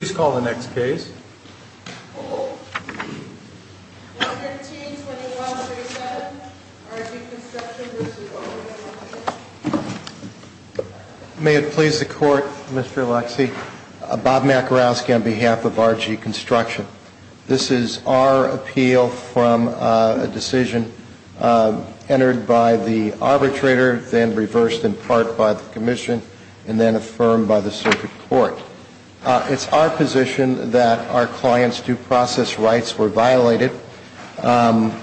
May it please the Court, Mr. Alexey. Bob Makarowski on behalf of RG Construction. This is our appeal from a decision entered by the arbitrator, then reversed in part by the Commission, and then affirmed by the Circuit Court. It's our position that our client's due process rights were violated by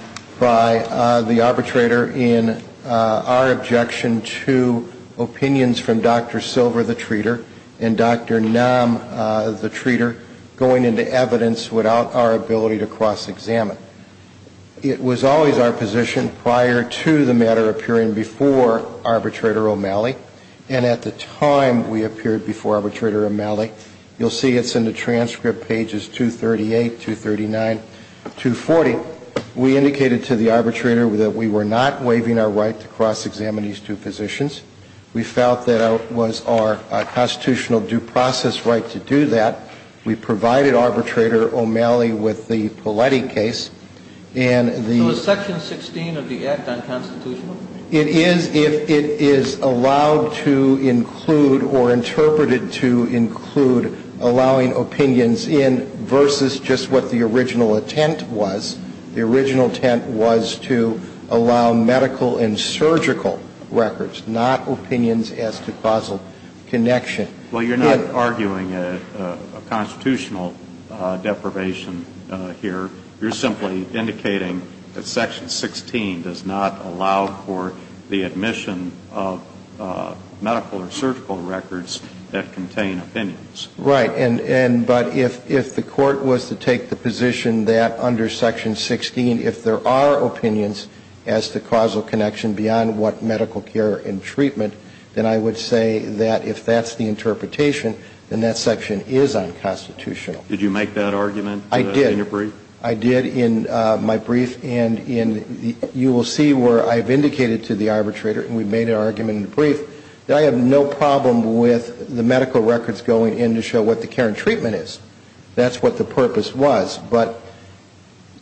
the arbitrator in our objection to opinions from Dr. Silver, the treater, and Dr. Nam, the treater, going into evidence without our ability to cross-examine. It was always our position prior to the matter appearing before Arbitrator O'Malley, and at the time we appeared before Arbitrator O'Malley, you'll see it's in the transcript, pages 238, 239, 240, we indicated to the arbitrator that we were not waiving our right to cross-examine these two positions. We felt that it was our constitutional due process right to do that. We provided Arbitrator O'Malley with the Poletti case, and the — So is Section 16 of the Act unconstitutional? It is if it is allowed to include or interpreted to include allowing opinions in versus just what the original intent was. The original intent was to allow medical and surgical records, not opinions as to causal connection. Well, you're not arguing a constitutional deprivation here. You're simply indicating that Section 16 does not allow for the admission of medical or surgical records that contain opinions. Right. And but if the Court was to take the position that under Section 16, if there are opinions as to causal connection beyond what medical care and treatment, then I would say that if that's the interpretation, then that section is unconstitutional. Did you make that argument in your brief? I did in my brief, and you will see where I've indicated to the arbitrator, and we've made an argument in the brief, that I have no problem with the medical records going in to show what the care and treatment is. That's what the purpose was. But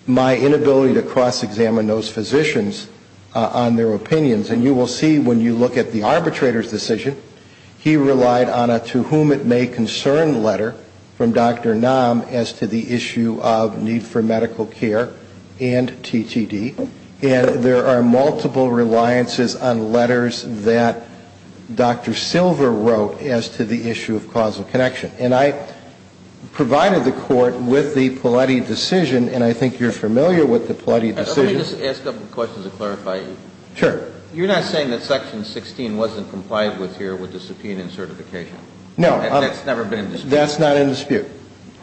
my inability to cross-examine those physicians on their opinions, and you will see when you look at the arbitrator's decision, he relied on a to whom it may concern letter from Dr. Nam as to the issue of need for medical care and TTD. And there are multiple reliances on letters that Dr. Silver wrote as to the issue of causal connection. And I provided the Court with the Paletti decision, and I think you're familiar with the Paletti decision. Let me just ask a couple of questions to clarify. Sure. You're not saying that section 16 wasn't complied with here with the subpoena and certification? No. That's never been in dispute? That's not in dispute.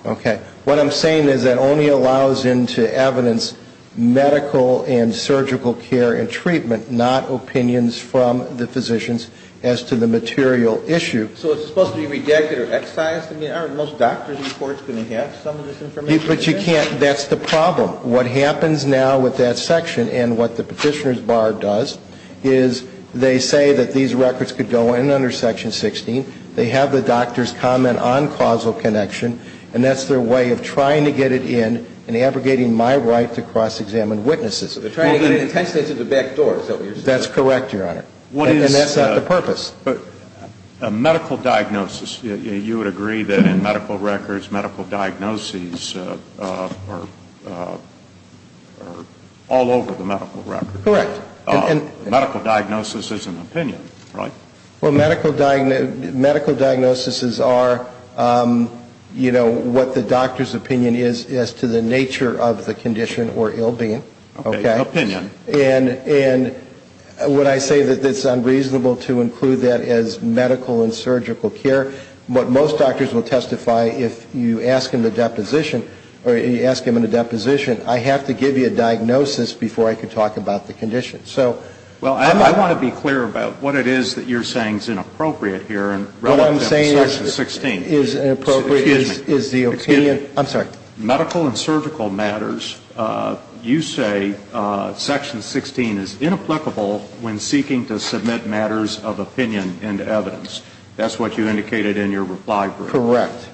Okay. What I'm saying is that only allows into evidence medical and surgical care and treatment, not opinions from the physicians as to the material issue. So it's supposed to be rejected or excised? I mean, aren't most doctor's reports going to have some of this information? But you can't – that's the problem. Well, what happens now with that section and what the Petitioner's Bar does is they say that these records could go in under section 16. They have the doctors comment on causal connection, and that's their way of trying to get it in and abrogating my right to cross-examine witnesses. So they're trying to get it intentionally through the back door, is that what you're saying? That's correct, Your Honor. And that's not the purpose. But a medical diagnosis, you would agree that in medical records, medical diagnoses are all over the medical record. Correct. A medical diagnosis is an opinion, right? Well, medical diagnoses are, you know, what the doctor's opinion is as to the nature of the condition or ill-being. Okay. An opinion. And when I say that it's unreasonable to include that as medical and surgical care, what most doctors will testify if you ask them in a deposition, I have to give you a diagnosis before I can talk about the condition. Well, I want to be clear about what it is that you're saying is inappropriate here and relevant to section 16. What I'm saying is inappropriate is the opinion – Excuse me. I'm sorry. Medical and surgical matters, you say section 16 is inapplicable when seeking to submit matters of opinion into evidence. That's what you indicated in your reply brief. Correct.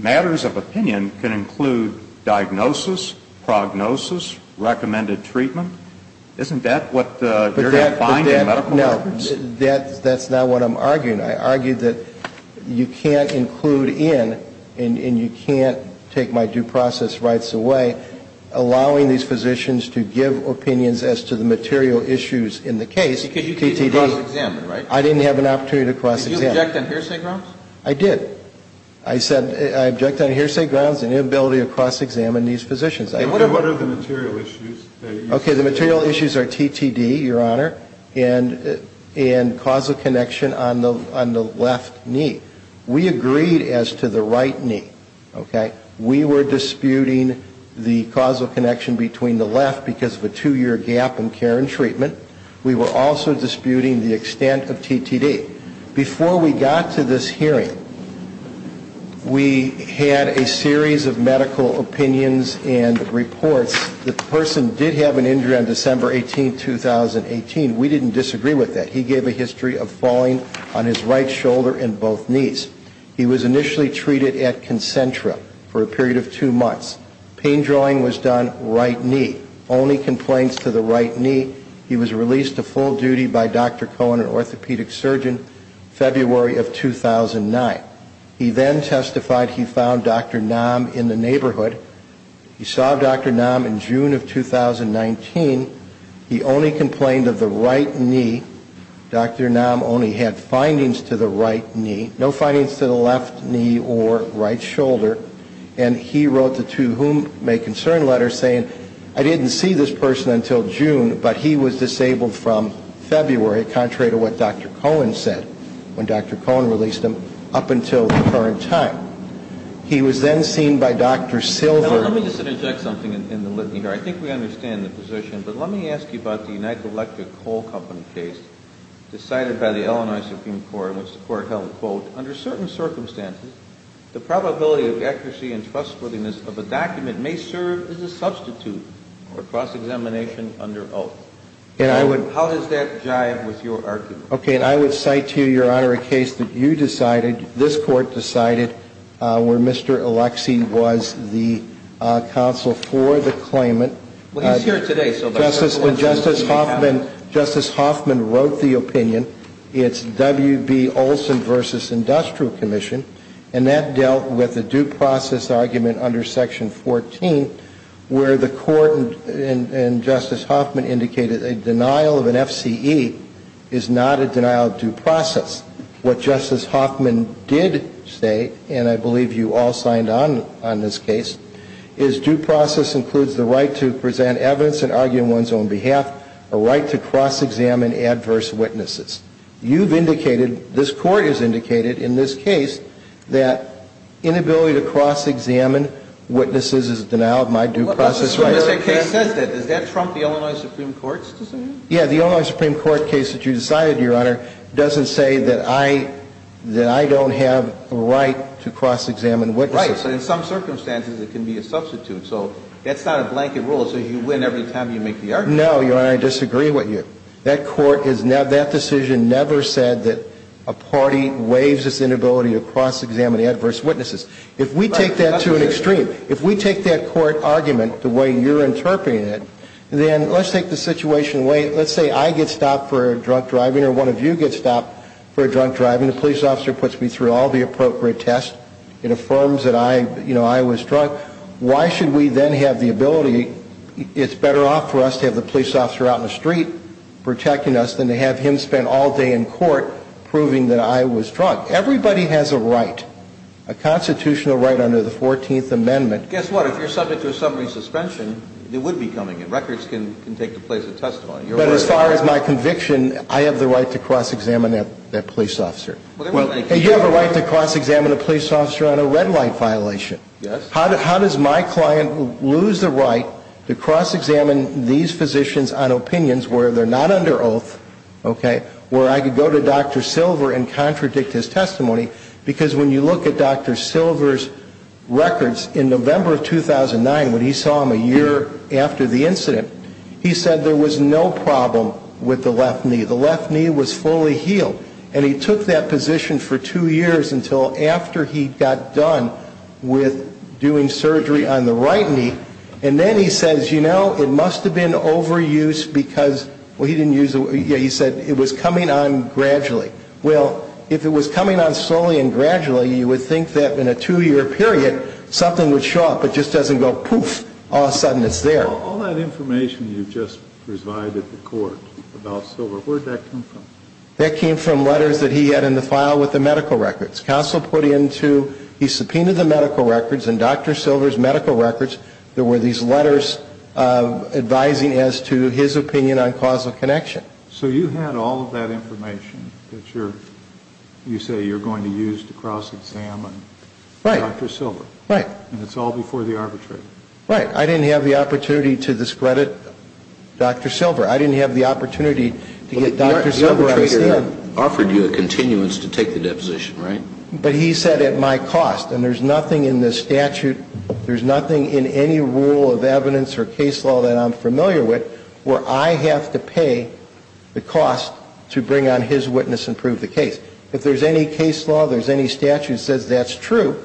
Matters of opinion can include diagnosis, prognosis, recommended treatment. Isn't that what you're defining in medical records? That's not what I'm arguing. I argue that you can't include in and you can't take my due process rights away allowing these physicians to give opinions as to the material issues in the case. Because you did cross-examine, right? I didn't have an opportunity to cross-examine. Did you object on hearsay grounds? I did. I said I object on hearsay grounds and inability to cross-examine these physicians. What are the material issues? Okay. The material issues are TTD, Your Honor, and causal connection on the left knee. We agreed as to the right knee, okay? We were disputing the causal connection between the left because of a two-year gap in care and treatment. We were also disputing the extent of TTD. Before we got to this hearing, we had a series of medical opinions and reports. The person did have an injury on December 18, 2018. We didn't disagree with that. He gave a history of falling on his right shoulder and both knees. He was initially treated at Concentra for a period of two months. Pain drawing was done right knee. Only complaints to the right knee. He was released to full duty by Dr. Cohen, an orthopedic surgeon, February of 2009. He then testified he found Dr. Nam in the neighborhood. He saw Dr. Nam in June of 2019. He only complained of the right knee. Dr. Nam only had findings to the right knee. No findings to the left knee or right shoulder. And he wrote the to whom may concern letter saying I didn't see this person until June, but he was disabled from February, contrary to what Dr. Cohen said when Dr. Cohen released him, up until the current time. He was then seen by Dr. Silver. Let me just interject something in the litany here. I think we understand the position, but let me ask you about the United Electric Coal Company case decided by the Illinois Supreme Court, which the Court held, quote, under certain circumstances, the probability of accuracy and trustworthiness of a document may serve as a substitute for cross-examination under oath. How does that jive with your argument? Okay. And I would cite to you, Your Honor, a case that you decided, this Court decided, where Mr. Alexie was the counsel for the claimant. Well, he's here today. Justice Hoffman wrote the opinion. It's W.B. Olson v. Industrial Commission, and that dealt with a due process argument under Section 14, where the Court and Justice Hoffman indicated a denial of an FCE is not a denial of due process. What Justice Hoffman did say, and I believe you all signed on on this case, is due process includes the right to present evidence and argue in one's own behalf, a right to cross-examine adverse witnesses. You've indicated, this Court has indicated in this case, that inability to cross-examine witnesses is a denial of my due process rights. Well, that's as soon as that case says that. Does that trump the Illinois Supreme Court's decision? Yeah. The Illinois Supreme Court case that you decided, Your Honor, doesn't say that I don't have a right to cross-examine witnesses. Right. But in some circumstances, it can be a substitute. So that's not a blanket rule. So you win every time you make the argument. No, Your Honor, I disagree with you. That Court has never, that decision never said that a party waives its inability to cross-examine adverse witnesses. If we take that to an extreme, if we take that Court argument the way you're interpreting it, then let's take the situation, let's say I get stopped for drunk driving or one of you gets stopped for drunk driving, the police officer puts me through all the appropriate tests, it affirms that I, you know, I was drunk, why should we then have the ability, it's better off for us to have the police officer out in the street protecting us than to have him spend all day in court proving that I was drunk. Everybody has a right, a constitutional right under the 14th Amendment. Guess what? If you're subject to a summary suspension, it would be coming in. Records can take the place of testimony. But as far as my conviction, I have the right to cross-examine that police officer. You have a right to cross-examine a police officer on a red light violation. Yes? How does my client lose the right to cross-examine these physicians on opinions where they're not under oath, okay, where I could go to Dr. Silver and contradict his testimony? Because when you look at Dr. Silver's records in November of 2009, when he saw him a year after the incident, he said there was no problem with the left knee. The left knee was fully healed. And he took that position for two years until after he got done with doing surgery on the right knee. And then he says, you know, it must have been overuse because, well, he didn't use it, yeah, he said it was coming on gradually. Well, if it was coming on slowly and gradually, you would think that in a two-year period, something would show up, it just doesn't go poof, all of a sudden it's there. All that information you just provided the court about Silver, where did that come from? That came from letters that he had in the file with the medical records. Counsel put into, he subpoenaed the medical records and Dr. Silver's medical records, there were these letters advising as to his opinion on causal connection. So you had all of that information that you're, you say you're going to use to cross-examine Dr. Silver. Right, right. And it's all before the arbitrator. Right. I didn't have the opportunity to discredit Dr. Silver. I didn't have the opportunity to get Dr. Silver out of there. But the arbitrator offered you a continuance to take the deposition, right? But he said at my cost. And there's nothing in the statute, there's nothing in any rule of evidence or case law that I'm familiar with where I have to pay the cost to bring on his witness and prove the case. If there's any case law, there's any statute that says that's true,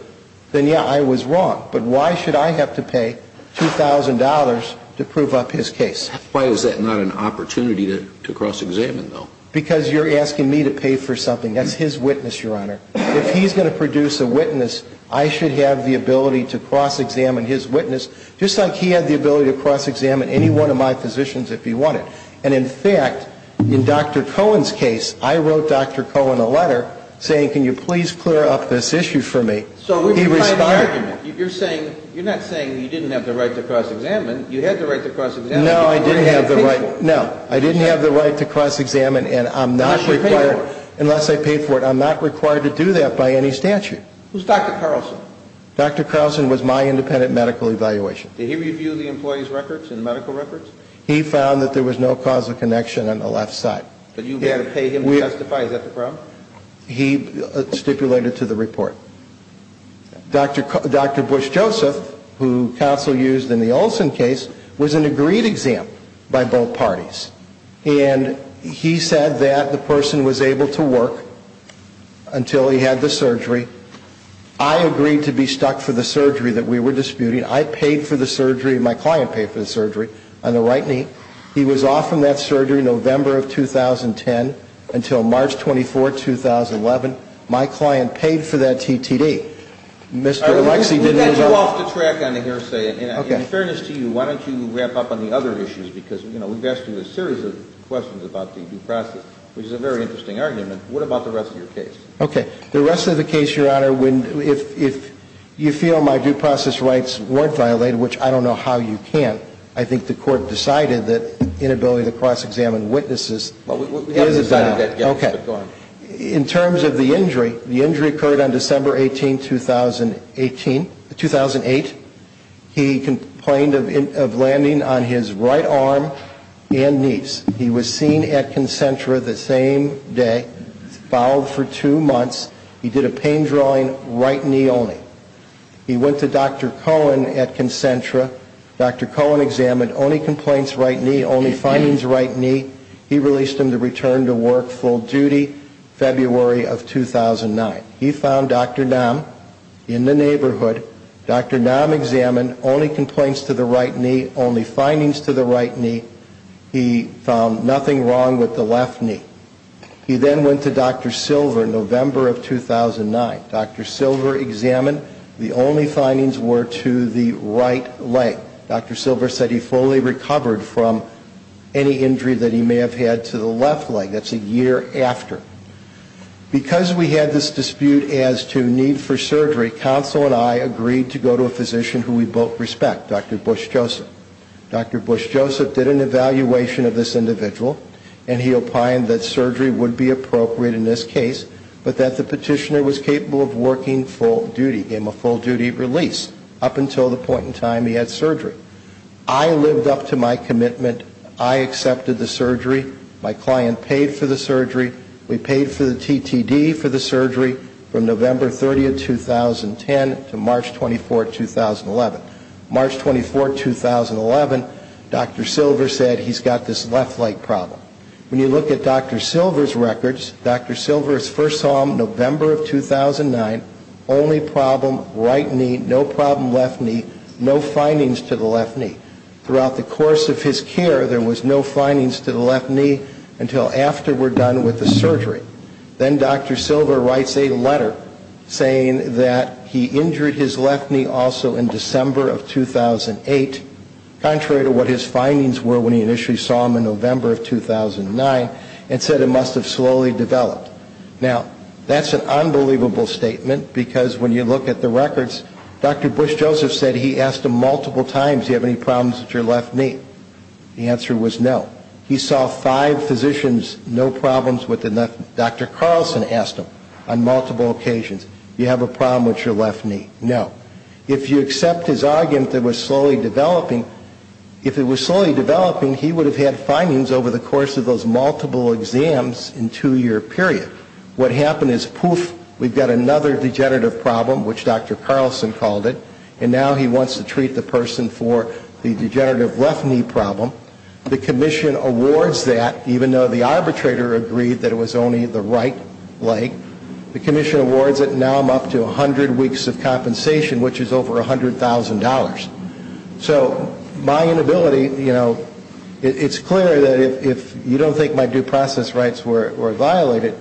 then, yeah, I was wrong. But why should I have to pay $2,000 to prove up his case? Why is that not an opportunity to cross-examine, though? Because you're asking me to pay for something. That's his witness, Your Honor. If he's going to produce a witness, I should have the ability to cross-examine his witness, just like he had the ability to cross-examine any one of my physicians if he wanted. And, in fact, in Dr. Cohen's case, I wrote Dr. Cohen a letter saying, can you please clear up this issue for me? So he responded. You're not saying you didn't have the right to cross-examine. You had the right to cross-examine. No, I didn't have the right. No, I didn't have the right to cross-examine, and I'm not required. Unless you paid for it. Unless I paid for it. I'm not required to do that by any statute. Who's Dr. Carlson? Dr. Carlson was my independent medical evaluation. Did he review the employee's records and medical records? He found that there was no causal connection on the left side. But you had to pay him to testify. Is that the problem? He stipulated to the report. Dr. Bush-Joseph, who counsel used in the Olson case, was an agreed exam by both parties. And he said that the person was able to work until he had the surgery. I agreed to be stuck for the surgery that we were disputing. I paid for the surgery. My client paid for the surgery on the right knee. He was off from that surgery November of 2010 until March 24, 2011. My client paid for that TTD. Mr. Lexie didn't use it. We got too off the track on the hearsay. In fairness to you, why don't you wrap up on the other issues? Because, you know, we've asked you a series of questions about the due process, which is a very interesting argument. What about the rest of your case? Okay. The rest of the case, Your Honor, when if you feel my due process rights weren't violated, which I don't know how you can't, I think the court decided that inability to cross-examine witnesses is a doubt. We haven't decided that yet. Go ahead. In terms of the injury, the injury occurred on December 18, 2008. He complained of landing on his right arm and knees. He was seen at Concentra the same day, fouled for two months. He did a pain drawing right knee only. He went to Dr. Cohen at Concentra. Dr. Cohen examined only complaints right knee, only findings right knee. He released him to return to work full duty February of 2009. He found Dr. Nam in the neighborhood. Dr. Nam examined only complaints to the right knee, only findings to the right knee. He found nothing wrong with the left knee. He then went to Dr. Silver November of 2009. Dr. Silver examined. The only findings were to the right leg. Dr. Silver said he fully recovered from any injury that he may have had to the left leg. That's a year after. Because we had this dispute as to need for surgery, counsel and I agreed to go to a physician who we both respect, Dr. Bush Joseph. Dr. Bush Joseph did an evaluation of this individual, and he opined that surgery would be appropriate in this case, but that the petitioner was capable of working full duty, gave him a full duty release up until the point in time he had surgery. I lived up to my commitment. I accepted the surgery. My client paid for the surgery. We paid for the TTD for the surgery from November 30, 2010, to March 24, 2011. March 24, 2011, Dr. Silver said he's got this left leg problem. When you look at Dr. Silver's records, Dr. Silver's first home November of 2009, only problem right knee, no problem left knee, no findings to the left knee. Throughout the course of his care, there was no findings to the left knee until after we're done with the surgery. Then Dr. Silver writes a letter saying that he injured his left knee also in December of 2008, contrary to what his findings were when he initially saw him in November of 2009, and said it must have slowly developed. Now, that's an unbelievable statement because when you look at the records, Dr. Bush Joseph said he asked him multiple times, do you have any problems with your left knee? The answer was no. He saw five physicians, no problems with the left knee. Dr. Carlson asked him on multiple occasions, do you have a problem with your left knee? No. If you accept his argument that it was slowly developing, if it was slowly developing, he would have had findings over the course of those multiple exams in a two-year period. What happened is, poof, we've got another degenerative problem, which Dr. Carlson called it, and now he wants to treat the person for the degenerative left knee problem. The commission awards that, even though the arbitrator agreed that it was only the right leg. The commission awards it, and now I'm up to 100 weeks of compensation, which is over $100,000. So my inability, you know, it's clear that if you don't think my due process rights were violated,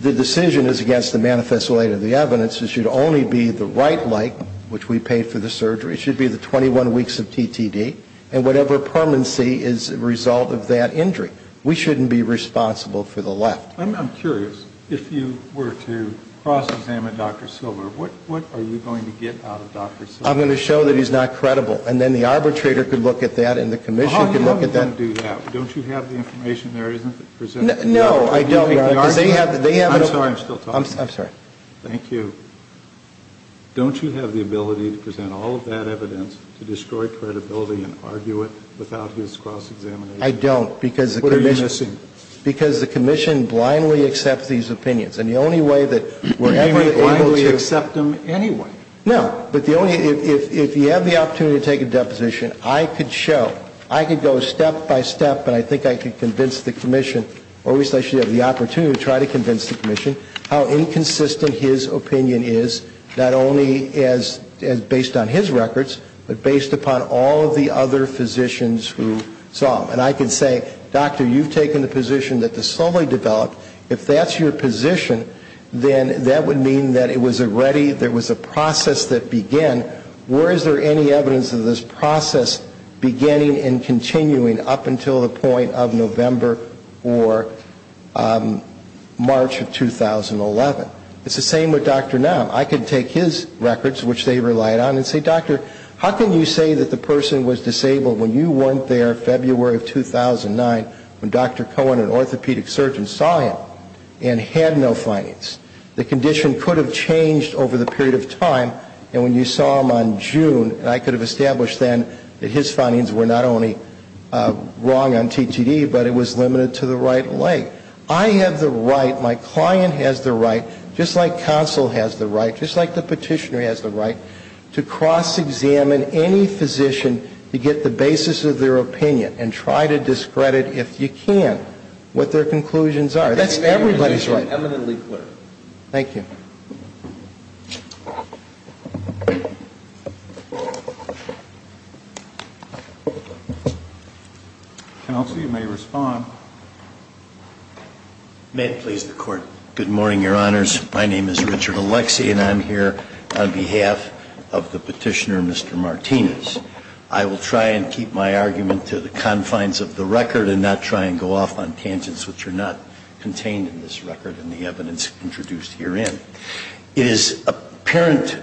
the decision is against the manifesto aid of the evidence. It should only be the right leg, which we paid for the surgery. It should be the 21 weeks of TTD, and whatever permanency is a result of that injury. We shouldn't be responsible for the left. I'm curious, if you were to cross-examine Dr. Silver, what are you going to get out of Dr. Silver? I'm going to show that he's not credible, and then the arbitrator could look at that, and the commission could look at that. Well, how are you going to do that? Don't you have the information there? No, I don't. I'm sorry, I'm still talking. I'm sorry. Thank you. Don't you have the ability to present all of that evidence to destroy credibility and argue it without his cross-examination? I don't, because the commission. What are you missing? Because the commission blindly accepts these opinions, and the only way that we're ever able to. You may blindly accept them anyway. No, but if you have the opportunity to take a deposition, I could show, I could go step-by-step, but I think I could convince the commission, or at least I should have the opportunity to try to convince the commission, how inconsistent his opinion is, not only based on his records, but based upon all of the other physicians who saw him. And I could say, doctor, you've taken the position that this solely developed. If that's your position, then that would mean that it was a ready, there was a process that began. Where is there any evidence of this process beginning and continuing up until the point of November or March of 2011? It's the same with Dr. Nam. I could take his records, which they relied on, and say, doctor, how can you say that the person was disabled when you weren't there February of 2009, when Dr. Cohen, an orthopedic surgeon, saw him and had no findings? The condition could have changed over the period of time, and when you saw him on June, I could have established then that his findings were not only wrong on TTD, but it was limited to the right leg. I have the right, my client has the right, just like counsel has the right, just like the petitioner has the right, to cross-examine any physician to get the basis of their opinion and try to discredit, if you can, what their conclusions are. That's everybody's right. That's eminently clear. Thank you. Counsel, you may respond. May it please the Court. Good morning, Your Honors. My name is Richard Alexie, and I'm here on behalf of the petitioner, Mr. Martinez. I will try and keep my argument to the confines of the record and not try and go off on tangents which are not contained in this record and the evidence introduced herein. It is apparent,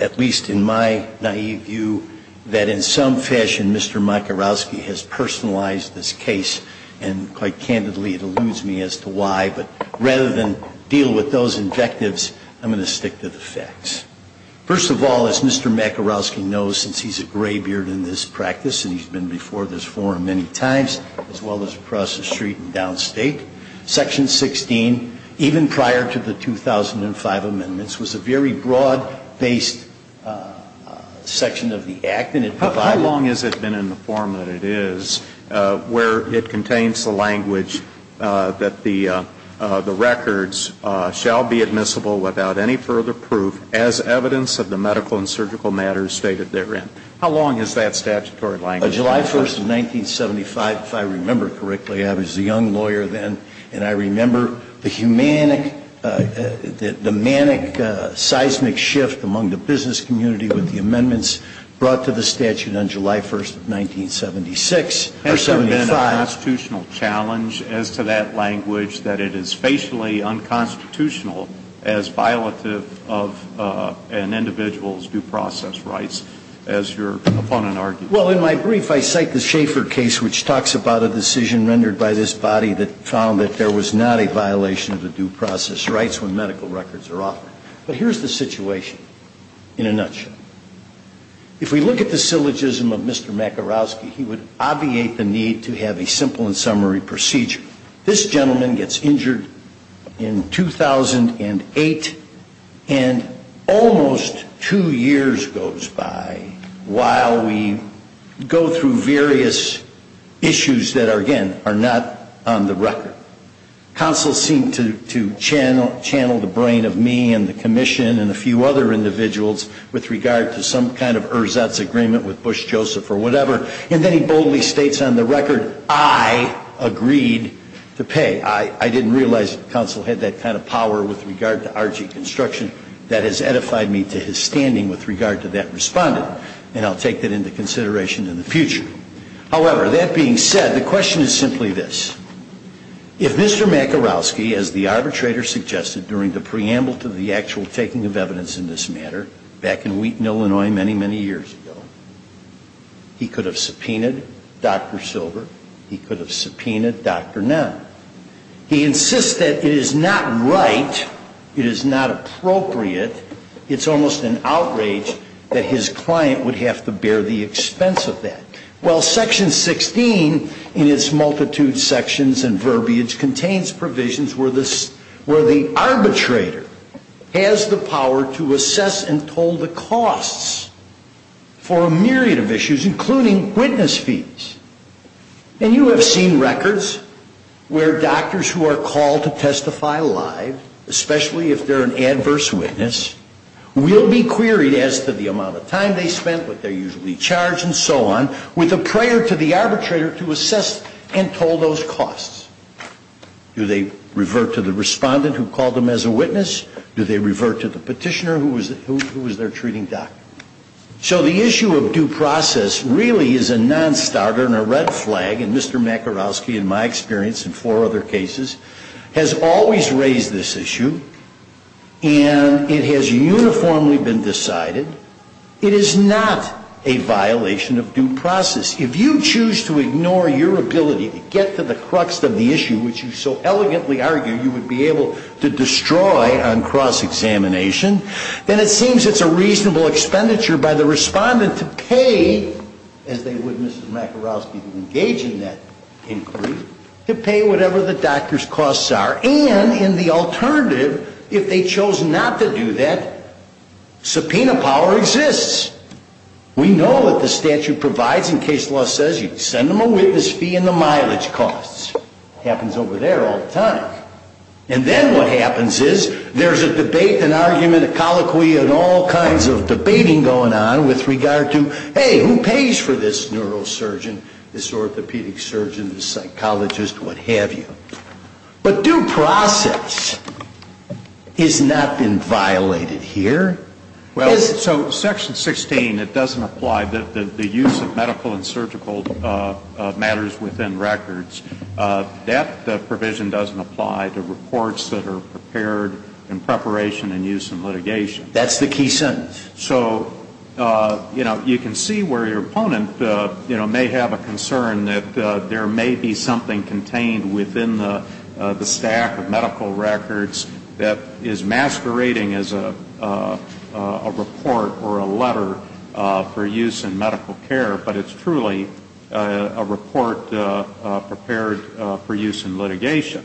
at least in my naïve view, that in some fashion, Mr. Makarowski has personalized this case, and quite candidly, it alludes me as to why. But rather than deal with those objectives, I'm going to stick to the facts. First of all, as Mr. Makarowski knows, since he's a gray beard in this practice and he's been before this forum many times, as well as across the street and downstate, Section 16, even prior to the 2005 amendments, was a very broad-based section of the Act. How long has it been in the form that it is where it contains the language that the records shall be admissible without any further proof as evidence of the medical and surgical matters stated therein? How long is that statutory language? July 1st of 1975, if I remember correctly. I was a young lawyer then, and I remember the manic seismic shift among the business community with the amendments brought to the statute on July 1st of 1976 or 75. Has there been a constitutional challenge as to that language, that it is facially unconstitutional as violative of an individual's due process rights, as your opponent argued? Well, in my brief, I cite the Schaeffer case, which talks about a decision rendered by this body that found that there was not a violation of the due process rights when medical records are offered. But here's the situation in a nutshell. If we look at the syllogism of Mr. Makarowski, he would obviate the need to have a simple and summary procedure. This gentleman gets injured in 2008, and almost two years goes by while we go through various issues that, again, are not on the record. Counsel seemed to channel the brain of me and the commission and a few other individuals with regard to some kind of ersatz agreement with Bush, Joseph, or whatever. And then he boldly states on the record, I agreed to pay. I didn't realize counsel had that kind of power with regard to arching construction. That has edified me to his standing with regard to that respondent, and I'll take that into consideration in the future. However, that being said, the question is simply this. If Mr. Makarowski, as the arbitrator suggested during the preamble to the actual taking of evidence in this matter back in Wheaton, Illinois, many, many years ago, he could have subpoenaed Dr. Silver, he could have subpoenaed Dr. Nunn. He insists that it is not right, it is not appropriate, it's almost an outrage that his client would have to bear the expense of that. Well, Section 16 in its multitude of sections and verbiage contains provisions where the arbitrator has the power to assess and toll the costs for a myriad of issues, including witness fees. And you have seen records where doctors who are called to testify live, especially if they're an adverse witness, will be queried as to the amount of time they spent, what the cost was, with a prayer to the arbitrator to assess and toll those costs. Do they revert to the respondent who called them as a witness? Do they revert to the petitioner who was their treating doctor? So the issue of due process really is a nonstarter and a red flag, and Mr. Makarowski, in my experience in four other cases, has always raised this issue, and it has uniformly been decided. And it is not a violation of due process. If you choose to ignore your ability to get to the crux of the issue, which you so elegantly argue you would be able to destroy on cross-examination, then it seems it's a reasonable expenditure by the respondent to pay, as they would, Mrs. Makarowski, to engage in that inquiry, to pay whatever the doctor's costs are. And in the alternative, if they chose not to do that, subpoena power exists. We know what the statute provides. In case law says you send them a witness fee and the mileage costs. Happens over there all the time. And then what happens is there's a debate, an argument, a colloquy, and all kinds of debating going on with regard to, hey, who pays for this neurosurgeon, this orthopedic surgeon, this psychologist, what have you. But due process has not been violated here. Is it? Well, so Section 16, it doesn't apply. The use of medical and surgical matters within records, that provision doesn't apply to reports that are prepared in preparation and use in litigation. That's the key sentence. So, you know, you can see where your opponent, you know, may have a concern that there may be something contained within the stack of medical records that is masquerading as a report or a letter for use in medical care, but it's truly a report prepared for use in litigation.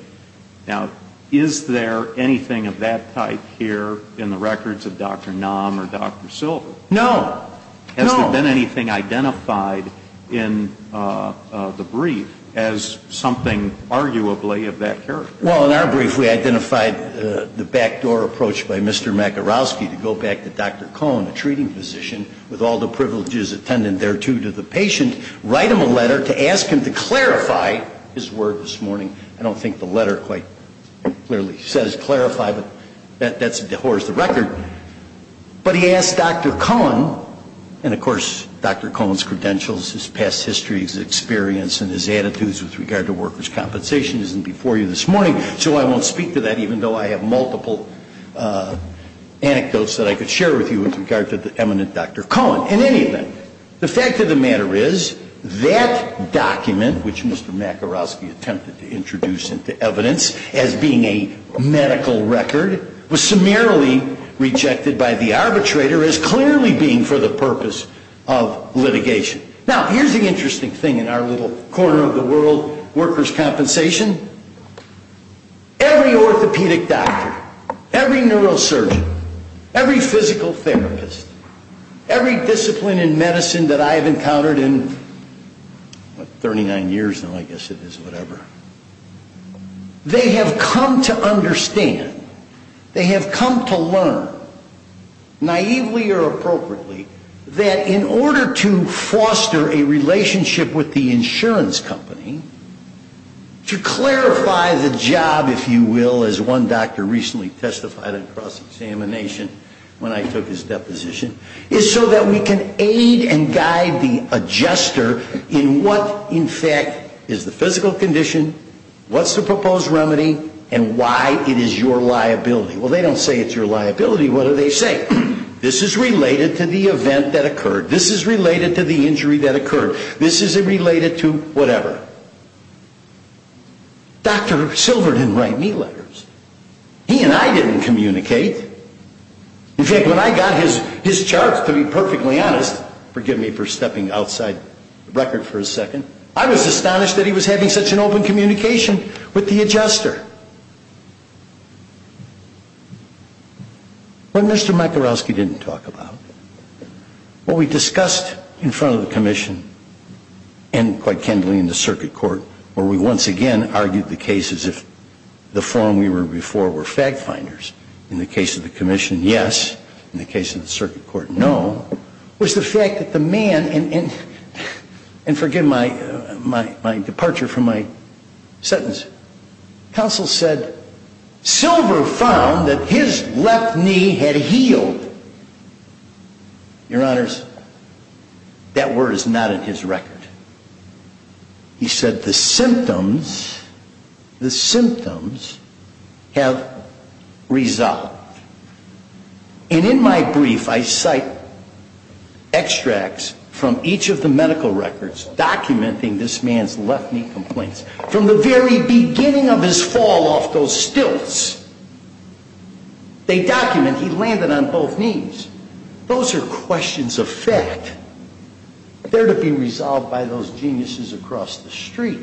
Now, is there anything of that type here in the records of Dr. Nam or Dr. Silver? No. No. Has there been anything identified in the brief as something arguably of that character? Well, in our brief, we identified the backdoor approach by Mr. Makarowski to go back to Dr. Cohen, a treating physician, with all the privileges attendant thereto to the patient, write him a letter to ask him to clarify his word this morning. I don't think the letter quite clearly says clarify, but that's a divorce the record. But he asked Dr. Cohen, and, of course, Dr. Cohen's credentials, his past history, his experience, and his attitudes with regard to workers' compensation isn't before you this morning, so I won't speak to that even though I have multiple anecdotes that I could share with you with regard to the eminent Dr. Cohen. In any event, the fact of the matter is that document, which Mr. Makarowski attempted to introduce into evidence as being a medical record, was summarily rejected by the arbitrator as clearly being for the purpose of litigation. Now, here's the interesting thing in our little corner of the world, workers' compensation. Every orthopedic doctor, every neurosurgeon, every physical therapist, every discipline in medicine that I have encountered in 39 years now, I guess it is, whatever, they have come to understand, they have come to learn, naively or appropriately, that in order to foster a relationship with the insurance company, to clarify the job, if you will, as one doctor recently testified at a cross-examination when I took his deposition, is so that we can aid and guide the adjuster in what, in fact, is the physical condition, what's the proposed remedy, and why it is your liability. Well, they don't say it's your liability. What do they say? This is related to the event that occurred. This is related to the injury that occurred. This is related to whatever. Dr. Silver didn't write me letters. He and I didn't communicate. In fact, when I got his charts, to be perfectly honest, forgive me for stepping outside the record for a second, I was astonished that he was having such an open communication with the adjuster. What Mr. Michalowski didn't talk about, what we discussed in front of the commission and quite candidly in the circuit court, where we once again argued the case as if the forum we were before were fact-finders in the case of the commission, yes, in the case of the circuit court, no, was the fact that the man, and forgive my departure from my sentence, counsel said, Silver found that his left knee had healed. Your honors, that word is not in his record. He said the symptoms, the symptoms have resolved. And in my brief, I cite extracts from each of the medical records documenting this man's left knee complaints. From the very beginning of his fall off those stilts, they document he landed on both knees. Those are questions of fact. They're to be resolved by those geniuses across the street.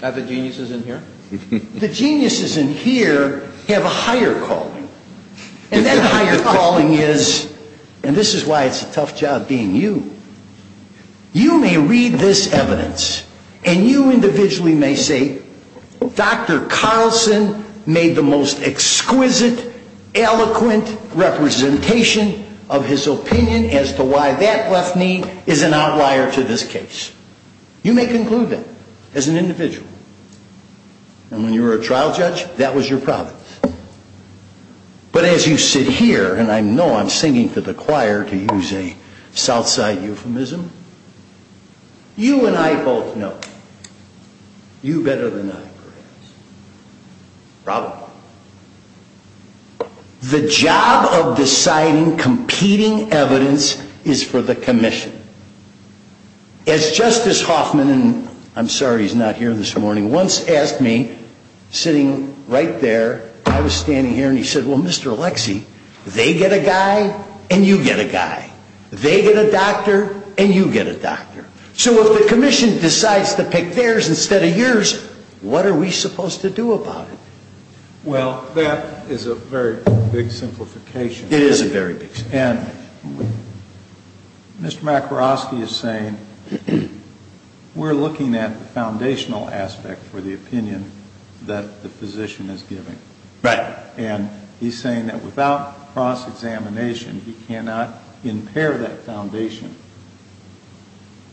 Have the geniuses in here? The geniuses in here have a higher calling. And that higher calling is, and this is why it's a tough job being you, you may read this evidence and you individually may say, Dr. Carlson made the most exquisite, eloquent representation of his opinion as to why that left knee is an outlier to this case. You may conclude that as an individual. And when you were a trial judge, that was your province. But as you sit here, and I know I'm singing to the choir to use a Southside euphemism, you and I both know, you better than I perhaps, probably, the job of deciding competing evidence is for the commission. As Justice Hoffman, and I'm sorry he's not here this morning, once asked me, sitting right there, I was standing here and he said, well, Mr. Alexie, they get a guy and you get a guy. They get a doctor and you get a doctor. So if the commission decides to pick theirs instead of yours, what are we supposed to do about it? Well, that is a very big simplification. It is a very big simplification. Mr. McCroskey is saying we're looking at the foundational aspect for the opinion that the physician is giving. Right. And he's saying that without cross-examination, you cannot impair that foundation.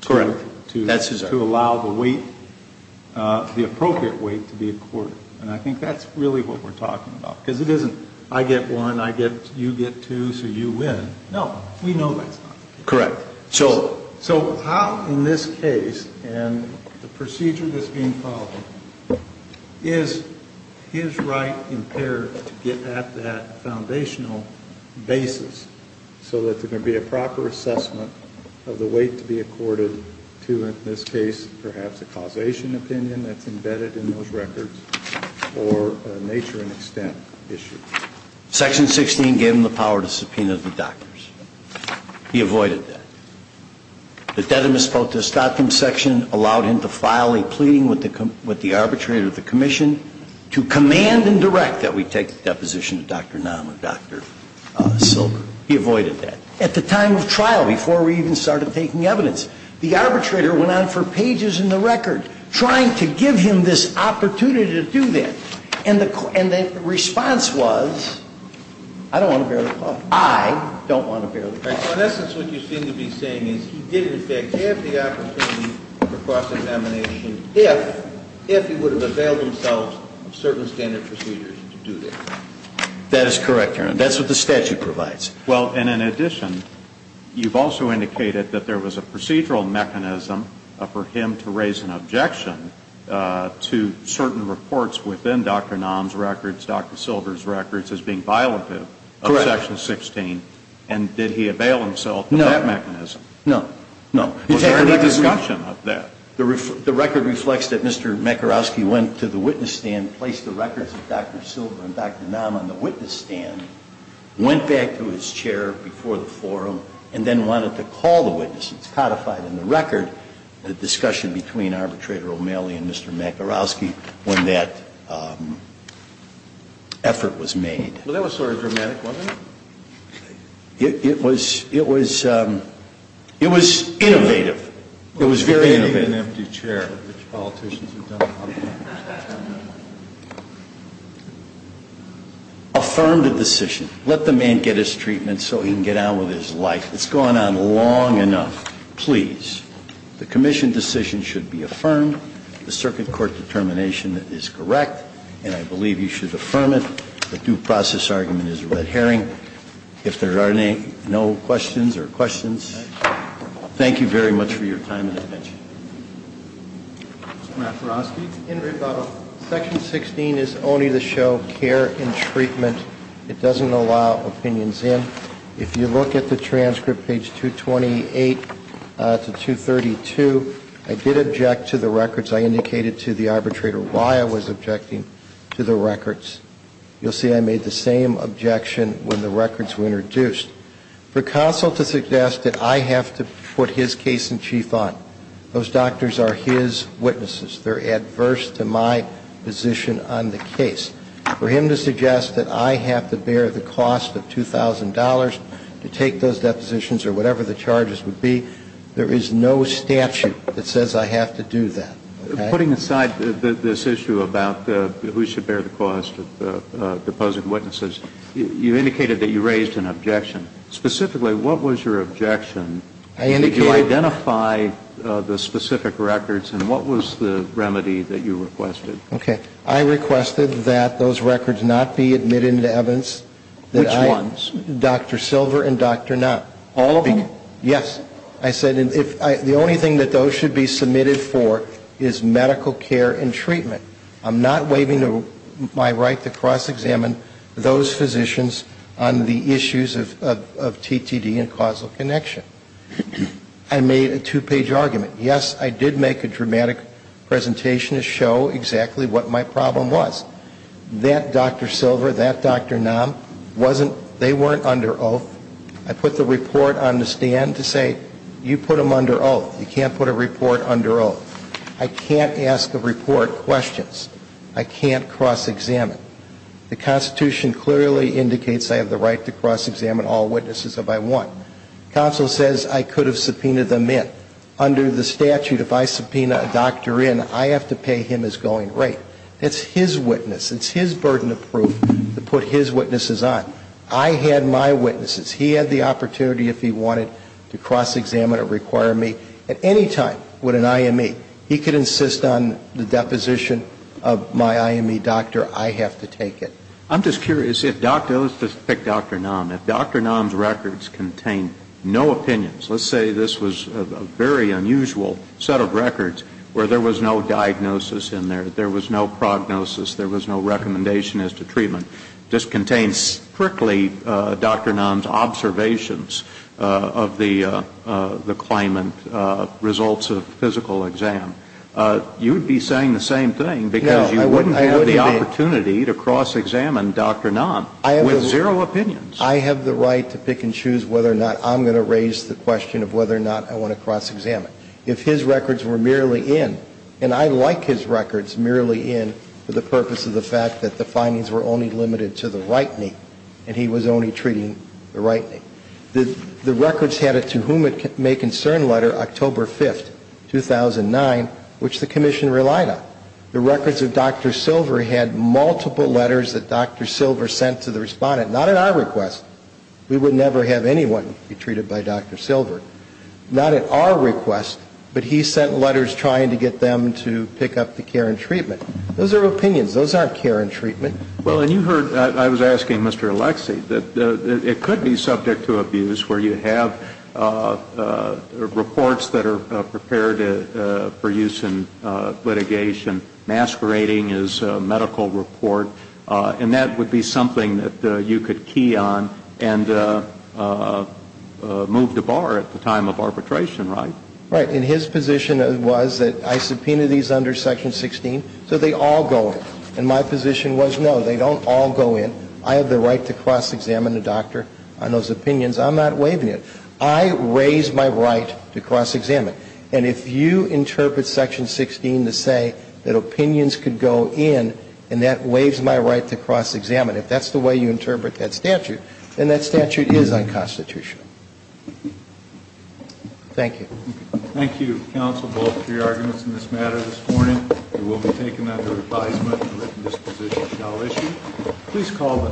Correct. To allow the weight, the appropriate weight to be accorded. And I think that's really what we're talking about. Because it isn't I get one, you get two, so you win. Correct. So how in this case, and the procedure that's being followed, is his right impaired to get at that foundational basis so that there can be a proper assessment of the weight to be accorded to, in this case, perhaps a causation opinion that's embedded in those records or a nature and extent issue? Section 16 gave him the power to subpoena the doctors. He avoided that. The dedimus potestatum section allowed him to file a pleading with the arbitrator of the commission to command and direct that we take the deposition of Dr. Nahum or Dr. Silker. He avoided that. At the time of trial, before we even started taking evidence, the arbitrator went on for pages in the record, trying to give him this opportunity to do that. And the response was, I don't want to bear the cost. I don't want to bear the cost. In essence, what you seem to be saying is he did, in fact, have the opportunity for cross-examination if he would have availed himself of certain standard procedures to do that. That is correct, Your Honor. That's what the statute provides. Well, and in addition, you've also indicated that there was a procedural mechanism for him to raise an objection to certain reports within the statute. And that was in Dr. Nahum's records, Dr. Silber's records, as being violative of Section 16. Correct. And did he avail himself of that mechanism? No. No. Was there a discussion of that? The record reflects that Mr. Makarowski went to the witness stand, placed the records of Dr. Silber and Dr. Nahum on the witness stand, went back to his chair before the forum, and then wanted to call the witnesses, codified in the record, the discussion between Arbitrator O'Malley and Mr. Makarowski when that effort was made. Well, that was sort of dramatic, wasn't it? It was innovative. It was very innovative. Affirm the decision. Let the man get his treatment so he can get on with his life. It's gone on long enough. Please. The commission decision should be affirmed. The circuit court determination is correct, and I believe you should affirm it. The due process argument is a red herring. Thank you very much for your time and attention. Mr. Makarowski? Section 16 is only to show care and treatment. It doesn't allow opinions in. If you look at the transcript, page 228 to 232, I did object to the records. I indicated to the arbitrator why I was objecting to the records. You'll see I made the same objection when the records were introduced. For counsel to suggest that I have to put his case in chief on, those doctors are his witnesses. They're adverse to my position on the case. For him to suggest that I have to bear the cost of $2,000 to take those depositions or whatever the charges would be, there is no statute that says I have to do that. Putting aside this issue about who should bear the cost of deposing witnesses, you indicated that you raised an objection. Specifically, what was your objection? Did you identify the specific records, and what was the remedy that you requested? Okay. I requested that those records not be admitted into evidence. Which ones? Dr. Silver and Dr. Nam. All of them? Yes. I said the only thing that those should be submitted for is medical care and treatment. I'm not waiving my right to cross-examine those physicians on the issues of TTD and causal connection. I made a two-page argument. Yes, I did make a dramatic presentation to show exactly what my problem was. That Dr. Silver, that Dr. Nam, they weren't under oath. I put the report on the stand to say, you put them under oath. You can't put a report under oath. I can't ask the report questions. I can't cross-examine. The Constitution clearly indicates I have the right to cross-examine all witnesses if I want. Counsel says I could have subpoenaed them in. Under the statute, if I subpoena a doctor in, I have to pay him his going rate. It's his witness. It's his burden of proof to put his witnesses on. I had my witnesses. He had the opportunity if he wanted to cross-examine or require me at any time with an IME. He could insist on the deposition of my IME doctor. I have to take it. I'm just curious if Dr. Nam's records contain no opinions. Let's say this was a very unusual set of records where there was no diagnosis in there. There was no prognosis. There was no recommendation as to treatment. This contains strictly Dr. Nam's observations of the claimant results of physical exam. You would be saying the same thing because you wouldn't have the opportunity to cross-examine Dr. Nam with zero opinions. I have the right to pick and choose whether or not I'm going to raise the question of whether or not I want to cross-examine. If his records were merely in, and I like his records merely in for the purpose of the fact that the findings were only limited to the right knee and he was only treating the right knee. The records had a to whom it may concern letter October 5th, 2009, which the commission relied on. The records of Dr. Silver had multiple letters that Dr. Silver sent to the respondent. Not at our request. We would never have anyone be treated by Dr. Silver. Not at our request, but he sent letters trying to get them to pick up the care and treatment. Those are opinions. Those aren't care and treatment. Well, and you heard, I was asking Mr. Alexie, that it could be subject to abuse where you have reports that are prepared for use in litigation. Masquerading is a medical report. And that would be something that you could key on and move to bar at the time of arbitration, right? Right. And his position was that I subpoena these under Section 16, so they all go in. And my position was, no, they don't all go in. I have the right to cross-examine the doctor on those opinions. I'm not waiving it. I raise my right to cross-examine. And if you interpret Section 16 to say that opinions could go in, and that waives my right to cross-examine, if that's the way you interpret that statute, then that statute is unconstitutional. Thank you. Thank you, counsel, both for your arguments in this matter this morning. It will be taken under advisement that this position shall issue.